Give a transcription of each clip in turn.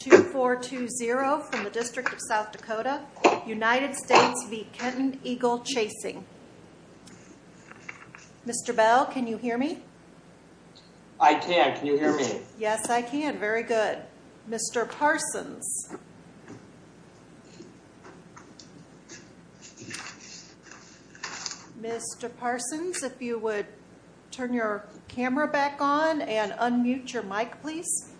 2420 from the District of South Dakota, United States v. Kenton Eagle Chasing. Mr. Bell, can you hear me? I can. Can you hear me? Yes, I can. Very good. Mr. Parsons. Mr. Parsons, if you would turn your camera back on and unmute your mic, please.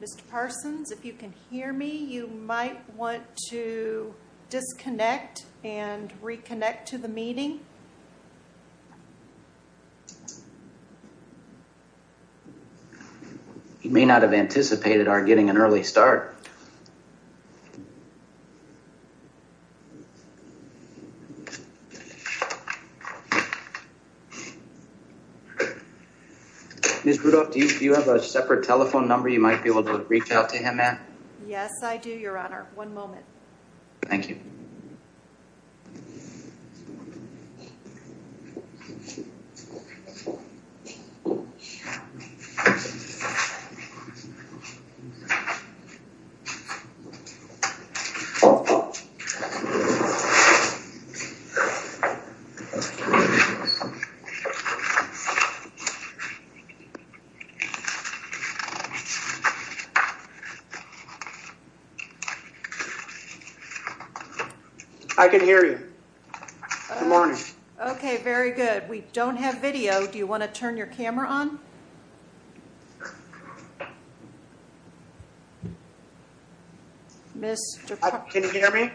Mr. Parsons, if you can hear me, you might want to disconnect and reconnect to the meeting. You may not have anticipated our getting an early start. Ms. Rudolph, do you have a separate telephone number you might be able to reach out to him at? Yes, I do, Your Honor. One moment. Thank you. I can hear you. Good morning. Okay, very good. We don't have video. Do you want to turn your camera on? Can you hear me?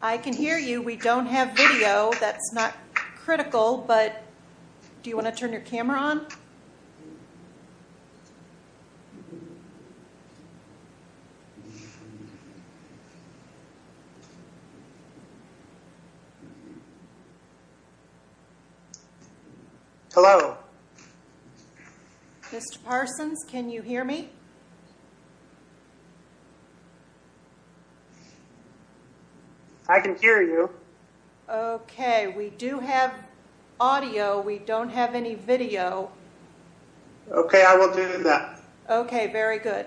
I can hear you. We don't have video. That's not critical, but do you want to turn your camera on? Hello. Mr. Parsons, can you hear me? I can hear you. Okay, we do have audio. We don't have any video. Okay, I will do that. Okay, very good.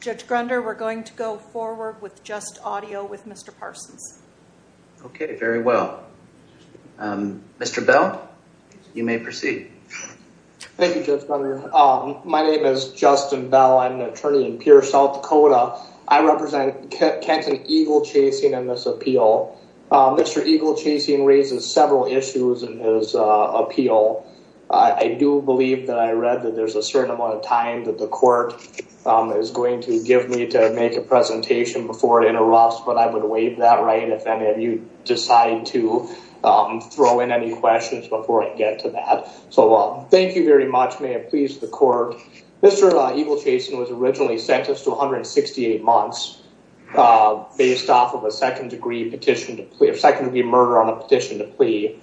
Judge Grunder, we're going to go forward with just audio with Mr. Parsons. Okay, very well. Mr. Bell, you may proceed. Thank you, Judge Grunder. My name is Justin Bell. I'm an attorney in Pierce, South Dakota. I represent Kenton Eagle Chasing in this appeal. Mr. Eagle Chasing raises several issues in his appeal. I do believe that I read that there's a certain amount of time that the court is going to give me to make a presentation before it interrupts, but I would waive that right if any of you decide to throw in any questions before I get to that. Thank you very much. May it please the court. Mr. Eagle Chasing was originally sentenced to 168 months based off of a second-degree murder on a petition to plea.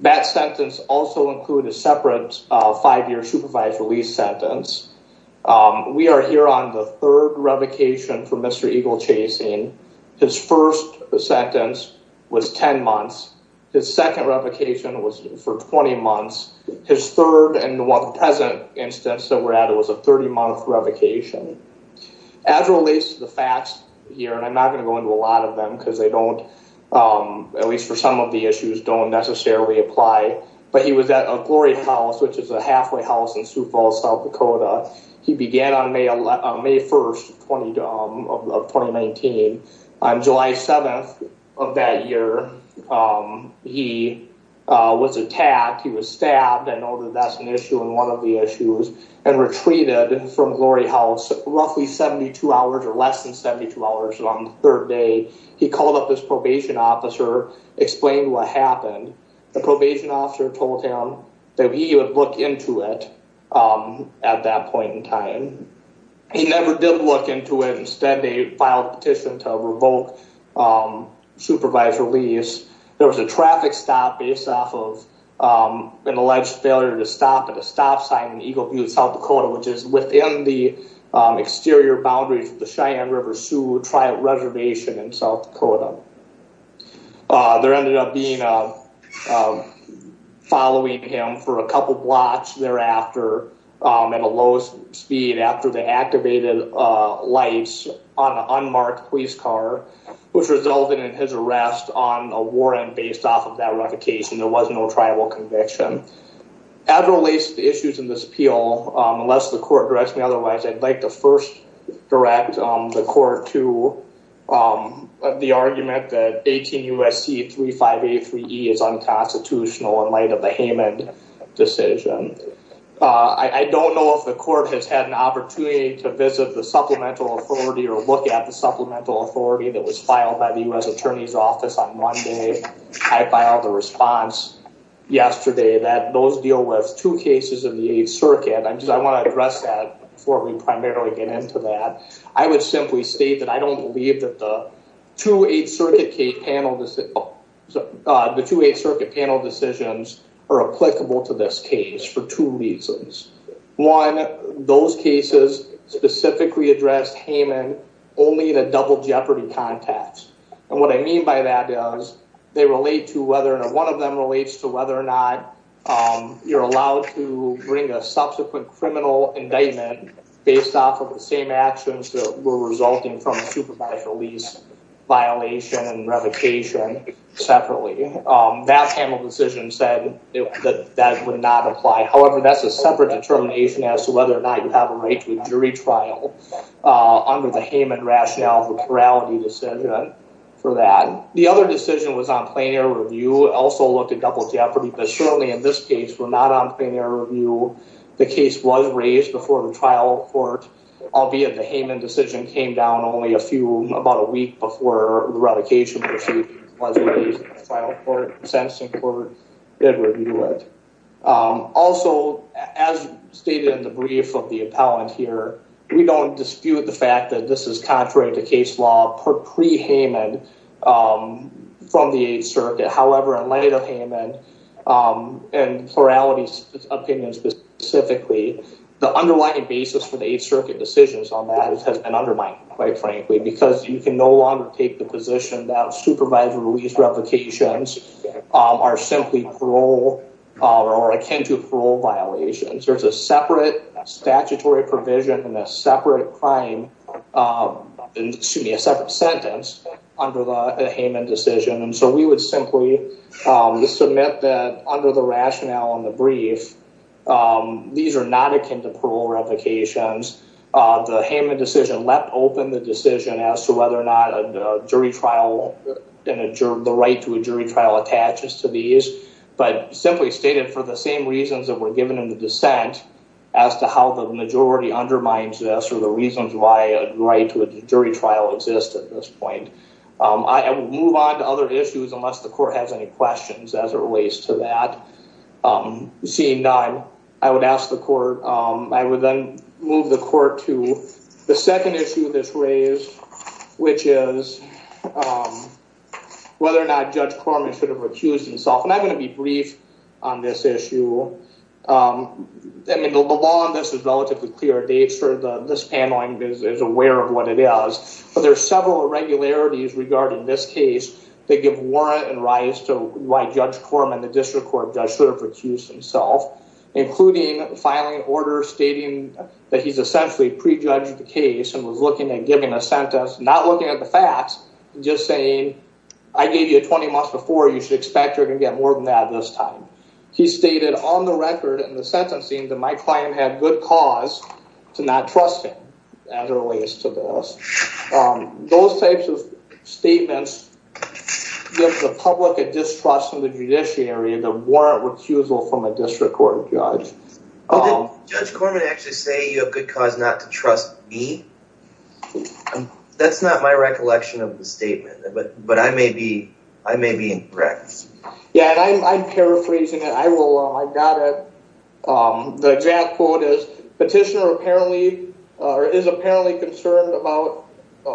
That sentence also included a separate five-year supervised release sentence. We are here on the third revocation for Mr. Eagle Chasing. His first sentence was 10 months. His second revocation was for 20 months. His third and one present instance that we're at was a 30-month revocation. As relates to the facts here, and I'm not going to go into a lot of them because they don't, at least for some of the issues, don't necessarily apply, but he was at a Glory House, which is a halfway house in Sioux Falls, South Dakota. He began on May 1st of 2019. On July 7th of that year, he was attacked. He was stabbed. I know that that's an issue and one of the issues. And retreated from Glory House roughly 72 hours or less than 72 hours on the third day. He called up his probation officer, explained what happened. The probation officer told him that he would look into it at that point in time. He never did look into it. Instead, they filed a petition to revoke supervised release. There was a traffic stop based off of an alleged failure to stop at a stop sign in Eagle Butte, South Dakota, which is within the exterior boundaries of the Cheyenne River Sioux Tri-Reservation in South Dakota. There ended up being a following him for a couple blocks thereafter at a low speed after they activated lights on an unmarked police car, which resulted in his arrest on a warrant based off of that revocation. There was no tribal conviction. As it relates to the issues in this appeal, unless the court directs me otherwise, I'd like to first direct the court to the argument that 18 U.S.C. 3583E is unconstitutional in light of the Heyman decision. I don't know if the court has had an opportunity to visit the supplemental authority or look at the supplemental authority that was filed by the U.S. Attorney's Office on Monday. I filed a response yesterday that those deal with two cases in the Eighth Circuit. I want to address that before we primarily get into that. I would simply state that I don't believe that the two Eighth Circuit panel decisions are applicable to this case for two reasons. One, those cases specifically addressed Heyman only in a double jeopardy context. And what I mean by that is they relate to whether one of them relates to whether or not you're allowed to bring a subsequent criminal indictment based off of the same actions that were resulting from a supervised release violation and revocation separately. That panel decision said that that would not apply. However, that's a separate determination as to whether or not you have a right to a jury trial under the Heyman rationale of the plurality decision for that. The other decision was on plain air review. It also looked at double jeopardy. But certainly in this case, we're not on plain air review. The case was raised before the trial court, albeit the Heyman decision came down only a few, about a week before the revocation was raised in the trial court. Also, as stated in the brief of the appellant here, we don't dispute the fact that this is contrary to case law pre-Heyman from the Eighth Circuit. However, in light of Heyman and plurality opinions specifically, the underlying basis for the Eighth Circuit decisions on that has been undermined, quite frankly, because you can no longer take the position that supervised release revocations are simply parole or are akin to parole violations. There's a separate statutory provision and a separate crime, excuse me, a separate sentence under the Heyman decision. And so we would simply submit that under the rationale on the brief, these are not akin to parole revocations. The Heyman decision let open the decision as to whether or not a jury trial and the right to a jury trial attaches to these, but simply stated for the same reasons that were given in the dissent as to how the majority undermines this or the reasons why a right to a jury trial exists at this point. I will move on to other issues unless the court has any questions as it relates to that. Seeing none, I would ask the court, I would then move the court to the second issue of this raise, which is whether or not Judge Corman should have recused himself. And I'm going to be brief on this issue. I mean, the law on this is relatively clear. This paneling is aware of what it is, but there are several irregularities regarding this case. They give warrant and rise to why Judge Corman, the district court judge, should have recused himself, including filing an order stating that he's essentially prejudged the case and was looking at giving a sentence, not looking at the facts, just saying, I gave you a 20 months before. You should expect you're going to get more than that this time. He stated on the record in the sentencing that my client had good cause to not trust him as it relates to this. Those types of statements give the public a distrust in the judiciary, the warrant recusal from a district court judge. Did Judge Corman actually say you have good cause not to trust me? That's not my recollection of the statement, but I may be incorrect. Yeah, and I'm paraphrasing it. I got it. The exact quote is, petitioner is apparently concerned about,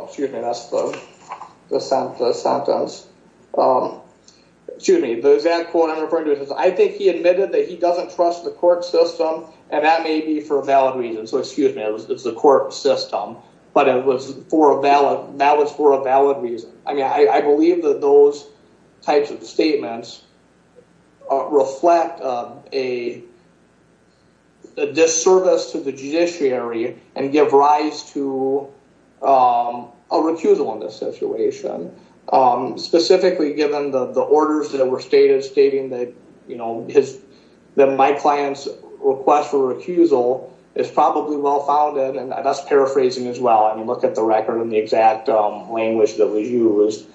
excuse me, that's the sentence. Excuse me, the exact quote I'm referring to is, I think he admitted that he doesn't trust the court system, and that may be for a valid reason. So excuse me, it's the court system, but that was for a valid reason. I mean, I believe that those types of statements reflect a disservice to the judiciary and give rise to a recusal in this situation. Specifically, given the orders that were stated, stating that, you know, that my client's request for recusal is probably well founded, and that's paraphrasing as well. And you look at the record and the exact language that was used,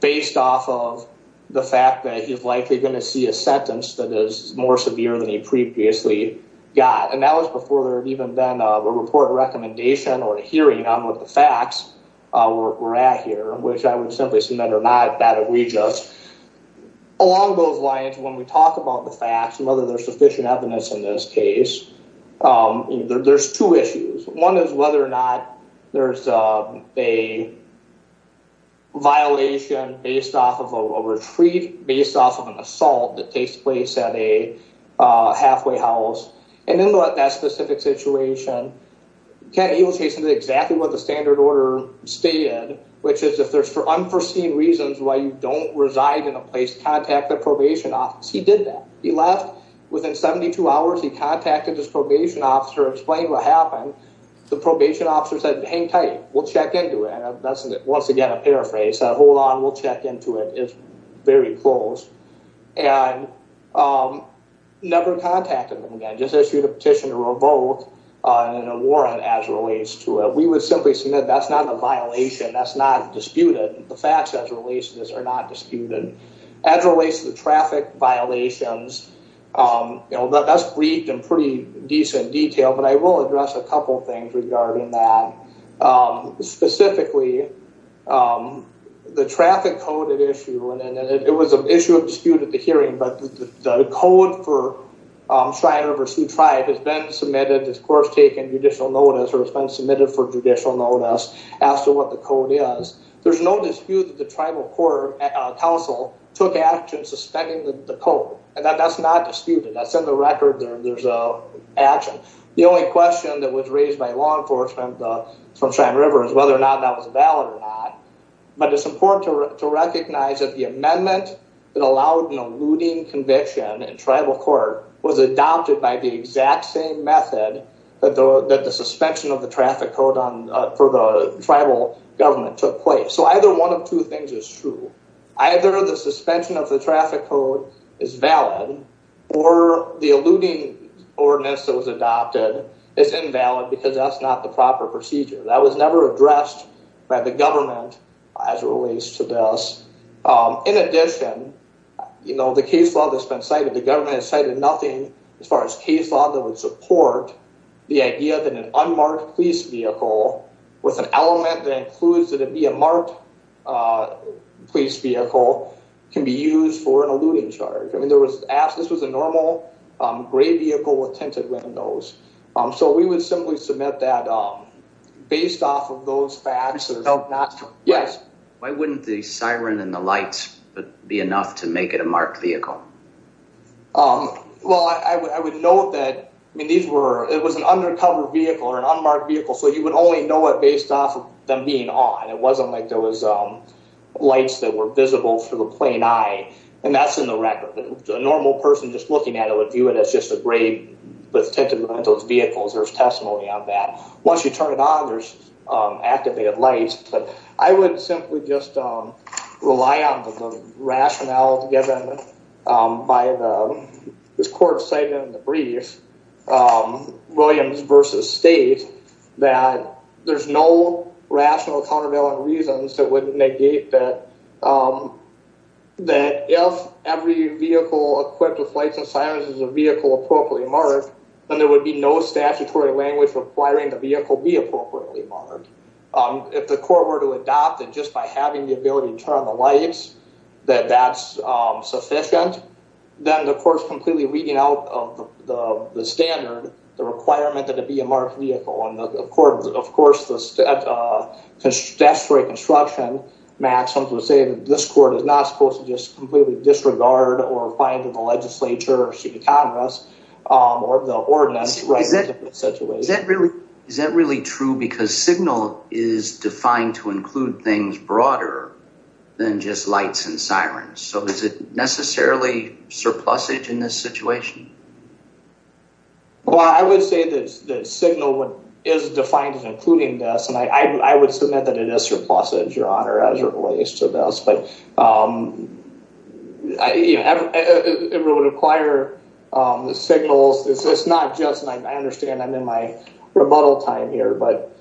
based off of the fact that he's likely going to see a sentence that is more severe than he previously got. And that was before there had even been a report of recommendation or a hearing on what the facts were at here, which I would simply submit are not that of rejust. Along those lines, when we talk about the facts and whether there's sufficient evidence in this case, there's two issues. One is whether or not there's a violation based off of a retreat, based off of an assault that takes place at a halfway house. And in that specific situation, he was chasing exactly what the standard order stated, which is if there's unforeseen reasons why you don't reside in a place, contact the probation office. He did that. He left within 72 hours. He contacted his probation officer, explained what happened. The probation officer said, hang tight. We'll check into it. And that's, once again, a paraphrase. Hold on. We'll check into it. It's very close. And never contacted him again. Just issued a petition to revoke and a warrant as relates to it. We would simply submit that's not a violation. That's not disputed. The facts as it relates to this are not disputed. As it relates to the traffic violations, that's briefed in pretty decent detail, but I will address a couple of things regarding that. Specifically, the traffic code issue, and it was an issue of dispute at the hearing, but the code for Shrine River Sioux Tribe has been submitted, of course, taken judicial notice or has been submitted for judicial notice as to what the code is. There's no dispute that the Tribal Court Council took action suspending the code. And that's not disputed. That's in the record. There's action. The only question that was raised by law enforcement from Shrine River is whether or not that was valid or not. But it's important to recognize that the amendment that allowed an eluding conviction in tribal court was adopted by the exact same method that the suspension of the traffic code for the tribal government took place. So either one of two things is true. Either the suspension of the traffic code is valid or the eluding ordinance that was adopted is invalid because that's not the proper procedure. That was never addressed by the government as it relates to this. In addition, you know, the case law that's been cited, the government has cited nothing as far as case law that would support the idea that an unmarked police vehicle with an element that includes that it be a marked police vehicle can be used for an eluding charge. I mean, this was a normal gray vehicle with tinted windows. So we would simply submit that based off of those facts. Yes. Why wouldn't the siren and the lights be enough to make it a marked vehicle? Well, I would note that it was an undercover vehicle or an unmarked vehicle, so you would only know it based off of them being on. It wasn't like there was lights that were visible to the plain eye, and that's in the record. A normal person just looking at it would view it as just a gray with tinted windows vehicle. There's testimony on that. Once you turn it on, there's activated lights. But I would simply just rely on the rationale given by this court's statement in the brief, Williams v. State, that there's no rational countervailing reasons that would negate that if every vehicle equipped with lights and sirens is a vehicle appropriately marked, then there would be no statutory language requiring the vehicle be appropriately marked. If the court were to adopt it just by having the ability to turn on the lights, that that's sufficient, then the court's completely reading out of the standard the requirement that it be a marked vehicle. Of course, the statutory construction maxim would say that this court is not supposed to just completely disregard or find that the legislature or city congress or the ordinance. Is that really true? Because signal is defined to include things broader than just lights and sirens. So is it necessarily surplusage in this situation? Well, I would say that signal is defined as including this, and I would submit that it is surplusage, Your Honor, as it relates to this. But it would require the signals. It's not just, and I understand I'm in my rebuttal time here, but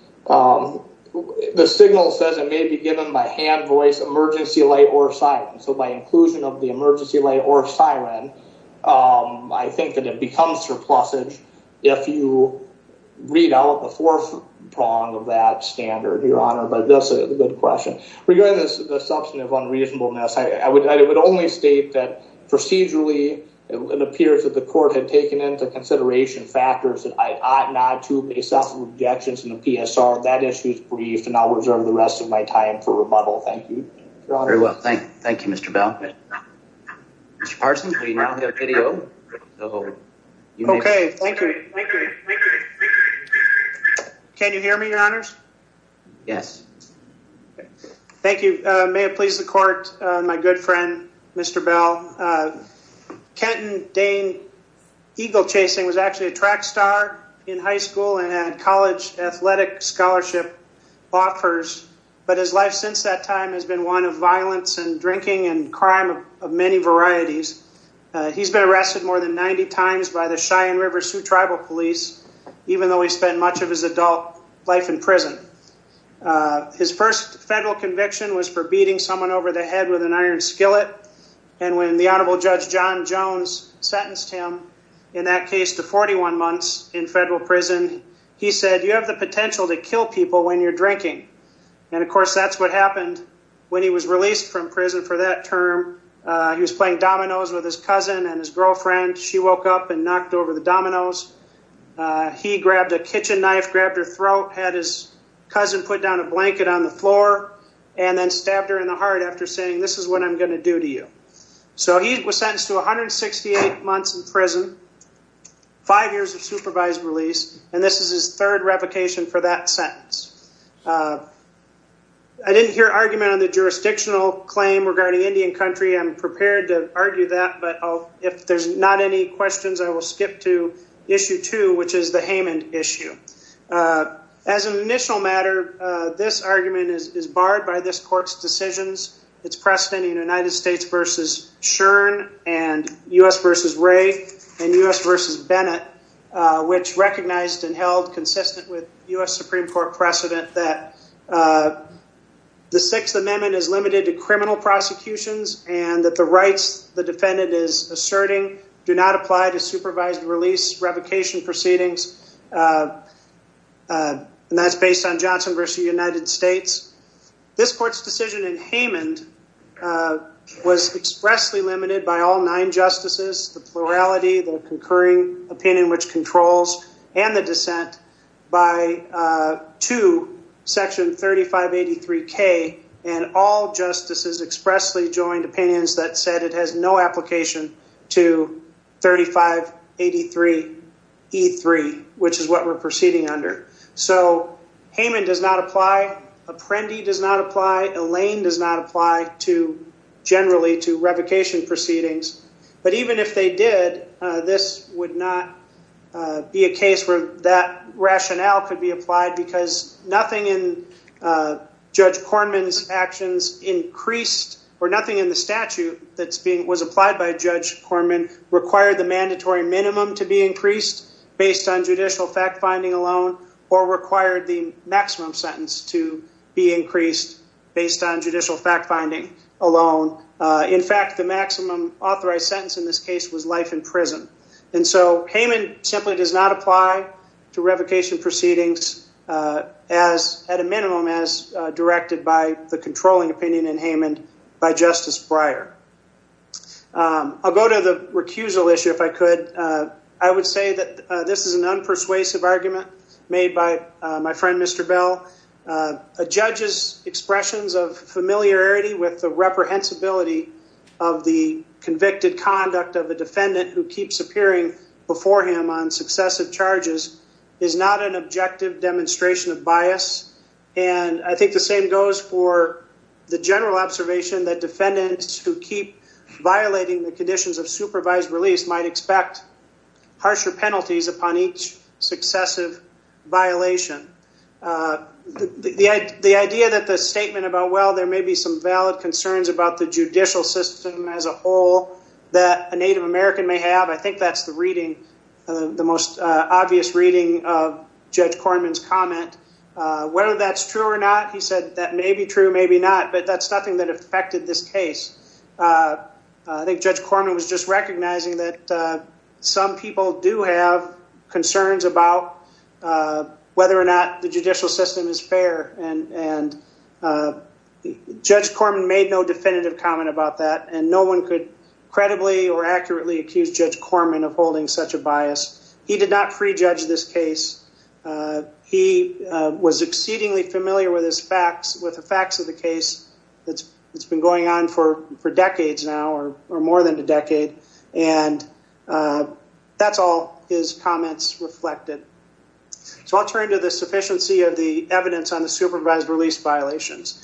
the signal says it may be given by hand, voice, emergency light, or siren. So by inclusion of the emergency light or siren, I think that it becomes surplusage if you read out the fourth prong of that standard, Your Honor. But that's a good question. Regarding the substantive unreasonableness, I would only state that procedurally it appears that the court had taken into consideration factors that I ought not to make self-objections in the PSR. That issue is brief, and I'll reserve the rest of my time for rebuttal. Thank you. Very well. Thank you, Mr. Bell. Mr. Parsons, we now have video. Okay. Thank you. Can you hear me, Your Honors? Yes. Thank you. May it please the court, my good friend, Mr. Bell, Kenton Dane Eagle Chasing was actually a track star in high school and had college athletic scholarship offers, but his life since that time has been one of violence and drinking and crime of many varieties. He's been arrested more than 90 times by the Cheyenne River Sioux Tribal Police, even though he spent much of his adult life in prison. His first federal conviction was for beating someone over the head with an iron skillet, and when the Honorable Judge John Jones sentenced him in that case to 41 months in federal prison, he said, you have the potential to kill people when you're drinking. And, of course, that's what happened when he was released from prison for that term. He was playing dominoes with his cousin and his girlfriend. She woke up and knocked over the dominoes. He grabbed a kitchen knife, grabbed her throat, had his cousin put down a blanket on the floor, and then stabbed her in the heart after saying, this is what I'm going to do to you. So he was sentenced to 168 months in prison, five years of supervised release, and this is his third replication for that sentence. I didn't hear argument on the jurisdictional claim regarding Indian country. I'm prepared to argue that, but if there's not any questions, I will skip to Issue 2, which is the Haymond issue. As an initial matter, this argument is barred by this court's decisions, its precedent in United States v. Schearn and U.S. v. Ray and U.S. v. Bennett, which recognized and held consistent with U.S. Supreme Court precedent that the Sixth Amendment is limited to and that the rights the defendant is asserting do not apply to supervised release revocation proceedings, and that's based on Johnson v. United States. This court's decision in Haymond was expressly limited by all nine justices, the plurality, the concurring opinion which controls, and the dissent, by to Section 3583K, and all justices expressly joined opinions that said it has no application to 3583E3, which is what we're proceeding under. So Haymond does not apply, Apprendi does not apply, Elaine does not apply generally to revocation proceedings, but even if they did, this would not be a case where that rationale could be applied because nothing in Judge Corman's actions increased, or nothing in the statute that was applied by Judge Corman required the mandatory minimum to be increased based on judicial fact-finding alone or required the maximum sentence to be increased based on judicial fact-finding alone. In fact, the maximum authorized sentence in this case was life in prison. And so Haymond simply does not apply to revocation proceedings as, at a minimum, as directed by the controlling opinion in Haymond by Justice Breyer. I'll go to the recusal issue if I could. I would say that this is an unpersuasive argument made by my friend Mr. Bell. A judge's expressions of familiarity with the reprehensibility of the convicted conduct of a defendant who keeps appearing before him on successive charges is not an objective demonstration of bias. And I think the same goes for the general observation that defendants who keep violating the conditions of supervised release might expect harsher penalties upon each successive violation. The idea that the statement about, well, there may be some valid concerns about the judicial system as a whole that a Native American may have, I think that's the reading, the most obvious reading of Judge Corman's comment. Whether that's true or not, he said that may be true, maybe not, but that's nothing that affected this case. I think Judge Corman was just recognizing that some people do have concerns about whether or not the judicial system is fair, and Judge Corman made no definitive comment about that, and no one could credibly or accurately accuse Judge Corman of holding such a bias. He was exceedingly familiar with the facts of the case. It's been going on for decades now, or more than a decade, and that's all his comments reflected. So I'll turn to the sufficiency of the evidence on the supervised release violations.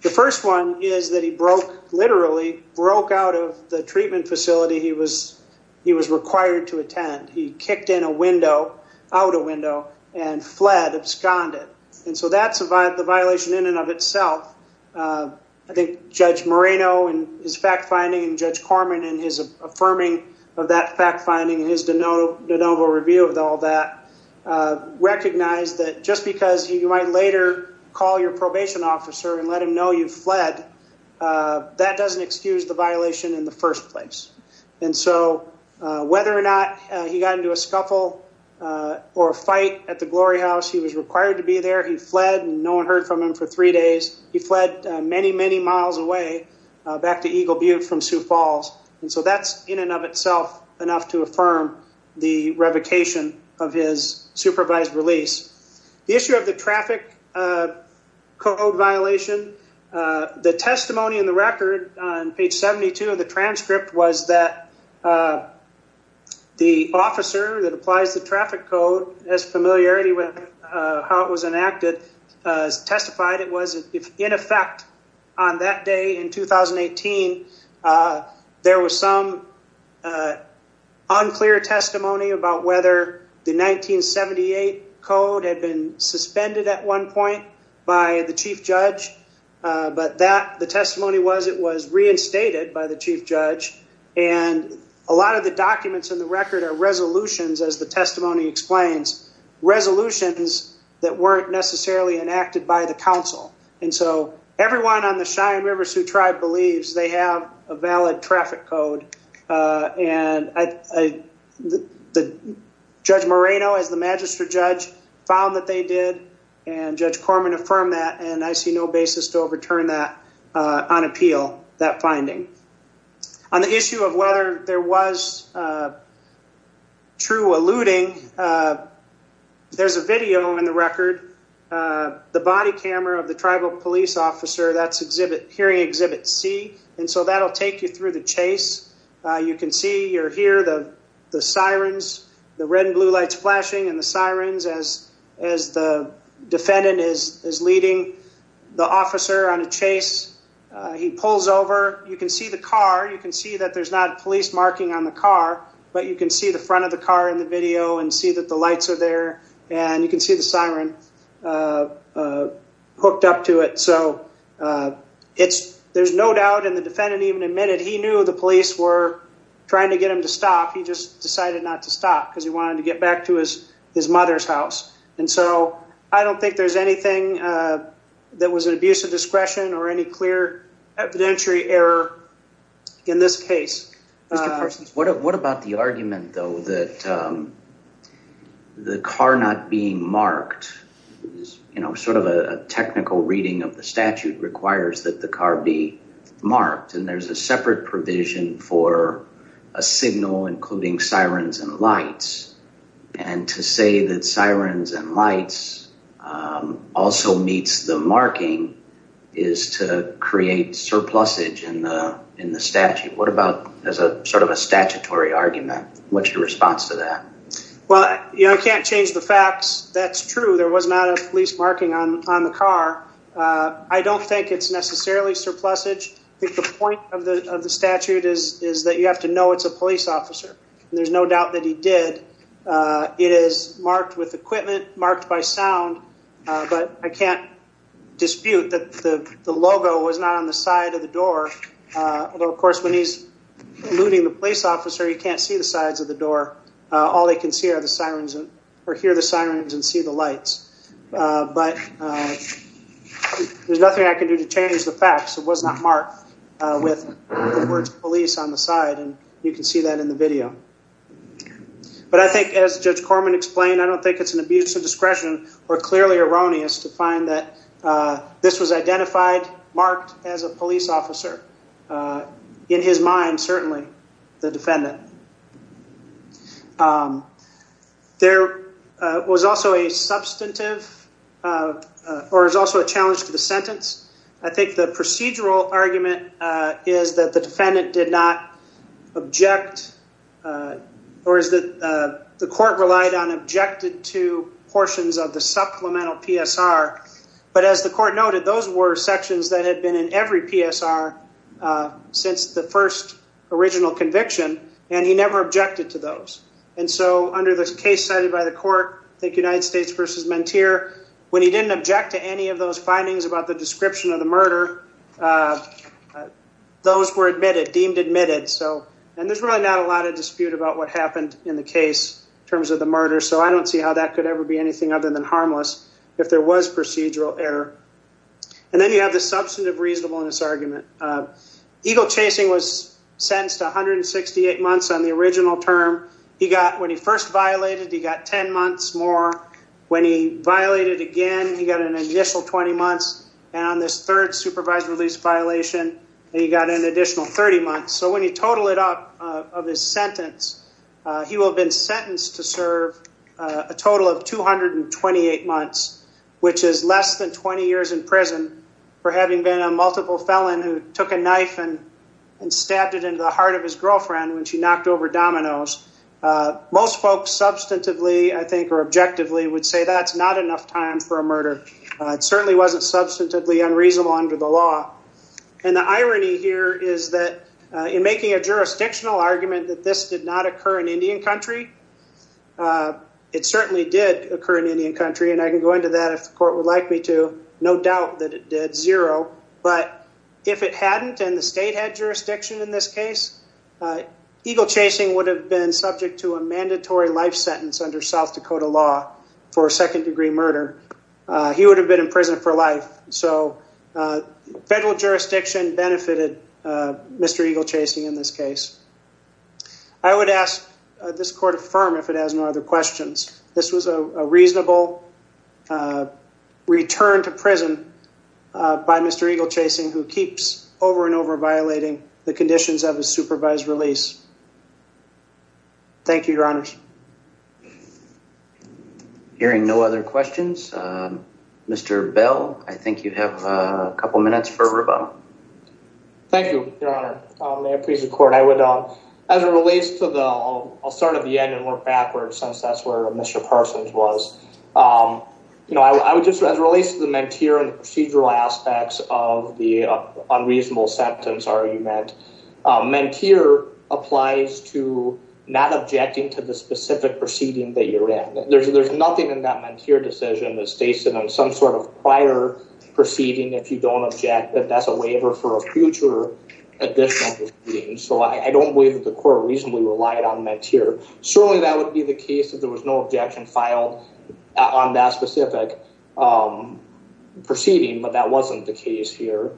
The first one is that he broke, literally broke out of the treatment facility he was required to attend. He kicked in a window, out a window, and fled, absconded. And so that's the violation in and of itself. I think Judge Moreno in his fact-finding and Judge Corman in his affirming of that fact-finding, his de novo review of all that, recognized that just because you might later call your probation officer and let him know you fled, that doesn't excuse the violation in the first place. And so whether or not he got into a scuffle or a fight at the glory house, he was required to be there. He fled, and no one heard from him for three days. He fled many, many miles away back to Eagle Butte from Sioux Falls. And so that's in and of itself enough to affirm the revocation of his supervised release. The issue of the traffic code violation, the testimony in the record on page 72 of the transcript was that the officer that applies the traffic code has familiarity with how it was enacted, testified it was in effect on that day in 2018. There was some unclear testimony about whether the 1978 code had been suspended at one point by the chief judge. But the testimony was it was reinstated by the chief judge. And a lot of the documents in the record are resolutions, as the testimony explains, resolutions that weren't necessarily enacted by the council. And so everyone on the Cheyenne River Sioux Tribe believes they have a valid traffic code. And Judge Moreno, as the magistrate judge, found that they did, and Judge Corman affirmed that, and I see no basis to overturn that on appeal, that finding. On the issue of whether there was true alluding, there's a video in the record, the body camera of the tribal police officer, that's exhibit, hearing exhibit C. And so that'll take you through the chase. You can see, you'll hear the sirens, the red and blue lights flashing and the sirens as the defendant is leading the officer on a chase. He pulls over. You can see the car. You can see that there's not a police marking on the car, but you can see the front of the car in the video and see that the lights are there. And you can see the siren hooked up to it. So there's no doubt in the defendant even admitted he knew the police were trying to get him to stop. He just decided not to stop because he wanted to get back to his mother's house. And so I don't think there's anything that was an abuse of discretion or any clear evidentiary error in this case. What about the argument, though, that the car not being marked is sort of a technical reading of the statute requires that the car be marked. And there's a separate provision for a signal, including sirens and lights. And to say that sirens and lights also meets the marking is to create surplus age in the in the statute. What about as a sort of a statutory argument? What's your response to that? Well, you know, I can't change the facts. That's true. There was not a police marking on the car. I don't think it's necessarily surplus age. I think the point of the statute is is that you have to know it's a police officer. There's no doubt that he did. It is marked with equipment marked by sound. But I can't dispute that the logo was not on the side of the door. Of course, when he's looting the police officer, you can't see the sides of the door. All they can see are the sirens or hear the sirens and see the lights. But there's nothing I can do to change the facts. It was not marked with the words police on the side. And you can see that in the video. But I think as Judge Corman explained, I don't think it's an abuse of discretion or clearly erroneous to find that this was identified, marked as a police officer. In his mind, certainly the defendant. There was also a substantive or is also a challenge to the sentence. I think the procedural argument is that the defendant did not object or is that the court relied on objected to portions of the supplemental PSR. But as the court noted, those were sections that had been in every PSR since the first original conviction. And he never objected to those. And so under this case cited by the court, the United States v. Menteer, when he didn't object to any of those findings about the description of the murder, those were admitted, deemed admitted. So and there's really not a lot of dispute about what happened in the case in terms of the murder. So I don't see how that could ever be anything other than harmless if there was procedural error. And then you have the substantive reasonableness argument. Eagle chasing was sentenced 168 months on the original term. He got when he first violated, he got 10 months more. When he violated again, he got an initial 20 months. And on this third supervised release violation, he got an additional 30 months. So when you total it up of his sentence, he will have been sentenced to serve a total of 228 months, which is less than 20 years in prison for having been a multiple felon who took a knife and stabbed it into the heart of his girlfriend when she knocked over dominoes. Most folks substantively, I think, or objectively would say that's not enough time for a murder. It certainly wasn't substantively unreasonable under the law. And the irony here is that in making a jurisdictional argument that this did not occur in Indian country, it certainly did occur in Indian country. And I can go into that if the court would like me to. No doubt that it did. Zero. But if it hadn't and the state had jurisdiction in this case, Eagle chasing would have been subject to a mandatory life sentence under South Dakota law for a second degree murder. He would have been in prison for life. So federal jurisdiction benefited Mr. Eagle chasing in this case. I would ask this court affirm if it has no other questions. This was a reasonable return to prison by Mr. Eagle chasing who keeps over and over violating the conditions of a supervised release. Thank you, Your Honors. Hearing no other questions. Mr. Bell, I think you have a couple of minutes for rebuttal. Thank you, Your Honor. Please record. I would as it relates to the I'll start at the end and work backwards since that's where Mr. Parsons was. You know, I would just as it relates to the menteer and procedural aspects of the unreasonable sentence argument. Menteer applies to not objecting to the specific proceeding that you're in. There's there's nothing in that menteer decision that states that on some sort of prior proceeding, if you don't object that that's a waiver for a future addition. So I don't believe that the court reasonably relied on menteer. Certainly, that would be the case if there was no objection filed on that specific proceeding. But that wasn't the case here.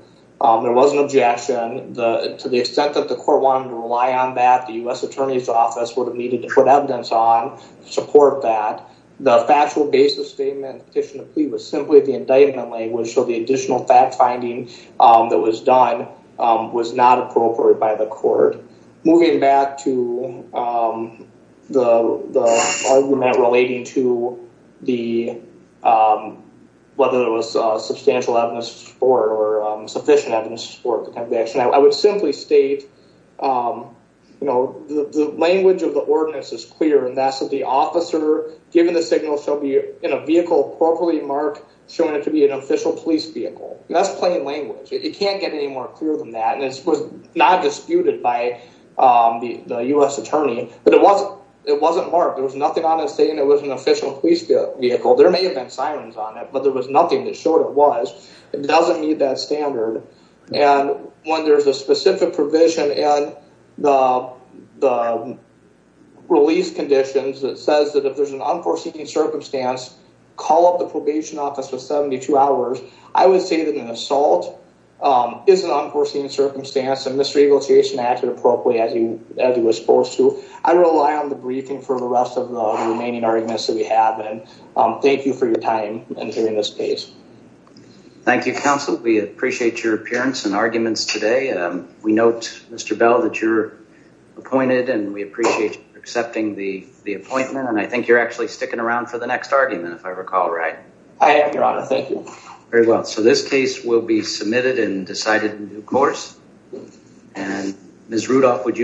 There was an objection to the extent that the court wanted to rely on that. The U.S. Attorney's Office would have needed to put evidence on to support that. The factual basis statement petition to plea was simply the indictment language. So the additional fact finding that was done was not appropriate by the court. Moving back to the argument relating to the whether it was substantial evidence for sufficient evidence for conviction. I would simply state, you know, the language of the ordinance is clear. And that's that the officer given the signal shall be in a vehicle appropriately marked, showing it to be an official police vehicle. That's plain language. It can't get any more clear than that. And it was not disputed by the U.S. attorney. But it wasn't it wasn't marked. There was nothing on it saying it was an official police vehicle. There may have been sirens on it, but there was nothing that showed it was. It doesn't meet that standard. And when there's a specific provision and the release conditions that says that if there's an unforeseen circumstance, call up the probation office for 72 hours. I would say that an assault is an unforeseen circumstance. And Mr. Eagle Jason acted appropriately as he was supposed to. I rely on the briefing for the rest of the remaining arguments that we have. And thank you for your time and hearing this case. Thank you, counsel. We appreciate your appearance and arguments today. We note, Mr. Bell, that you're appointed and we appreciate you accepting the appointment. And I think you're actually sticking around for the next argument, if I recall right. I am, your honor. Thank you. Very well. So this case will be submitted and decided in due course. And Ms. Rudolph, would you.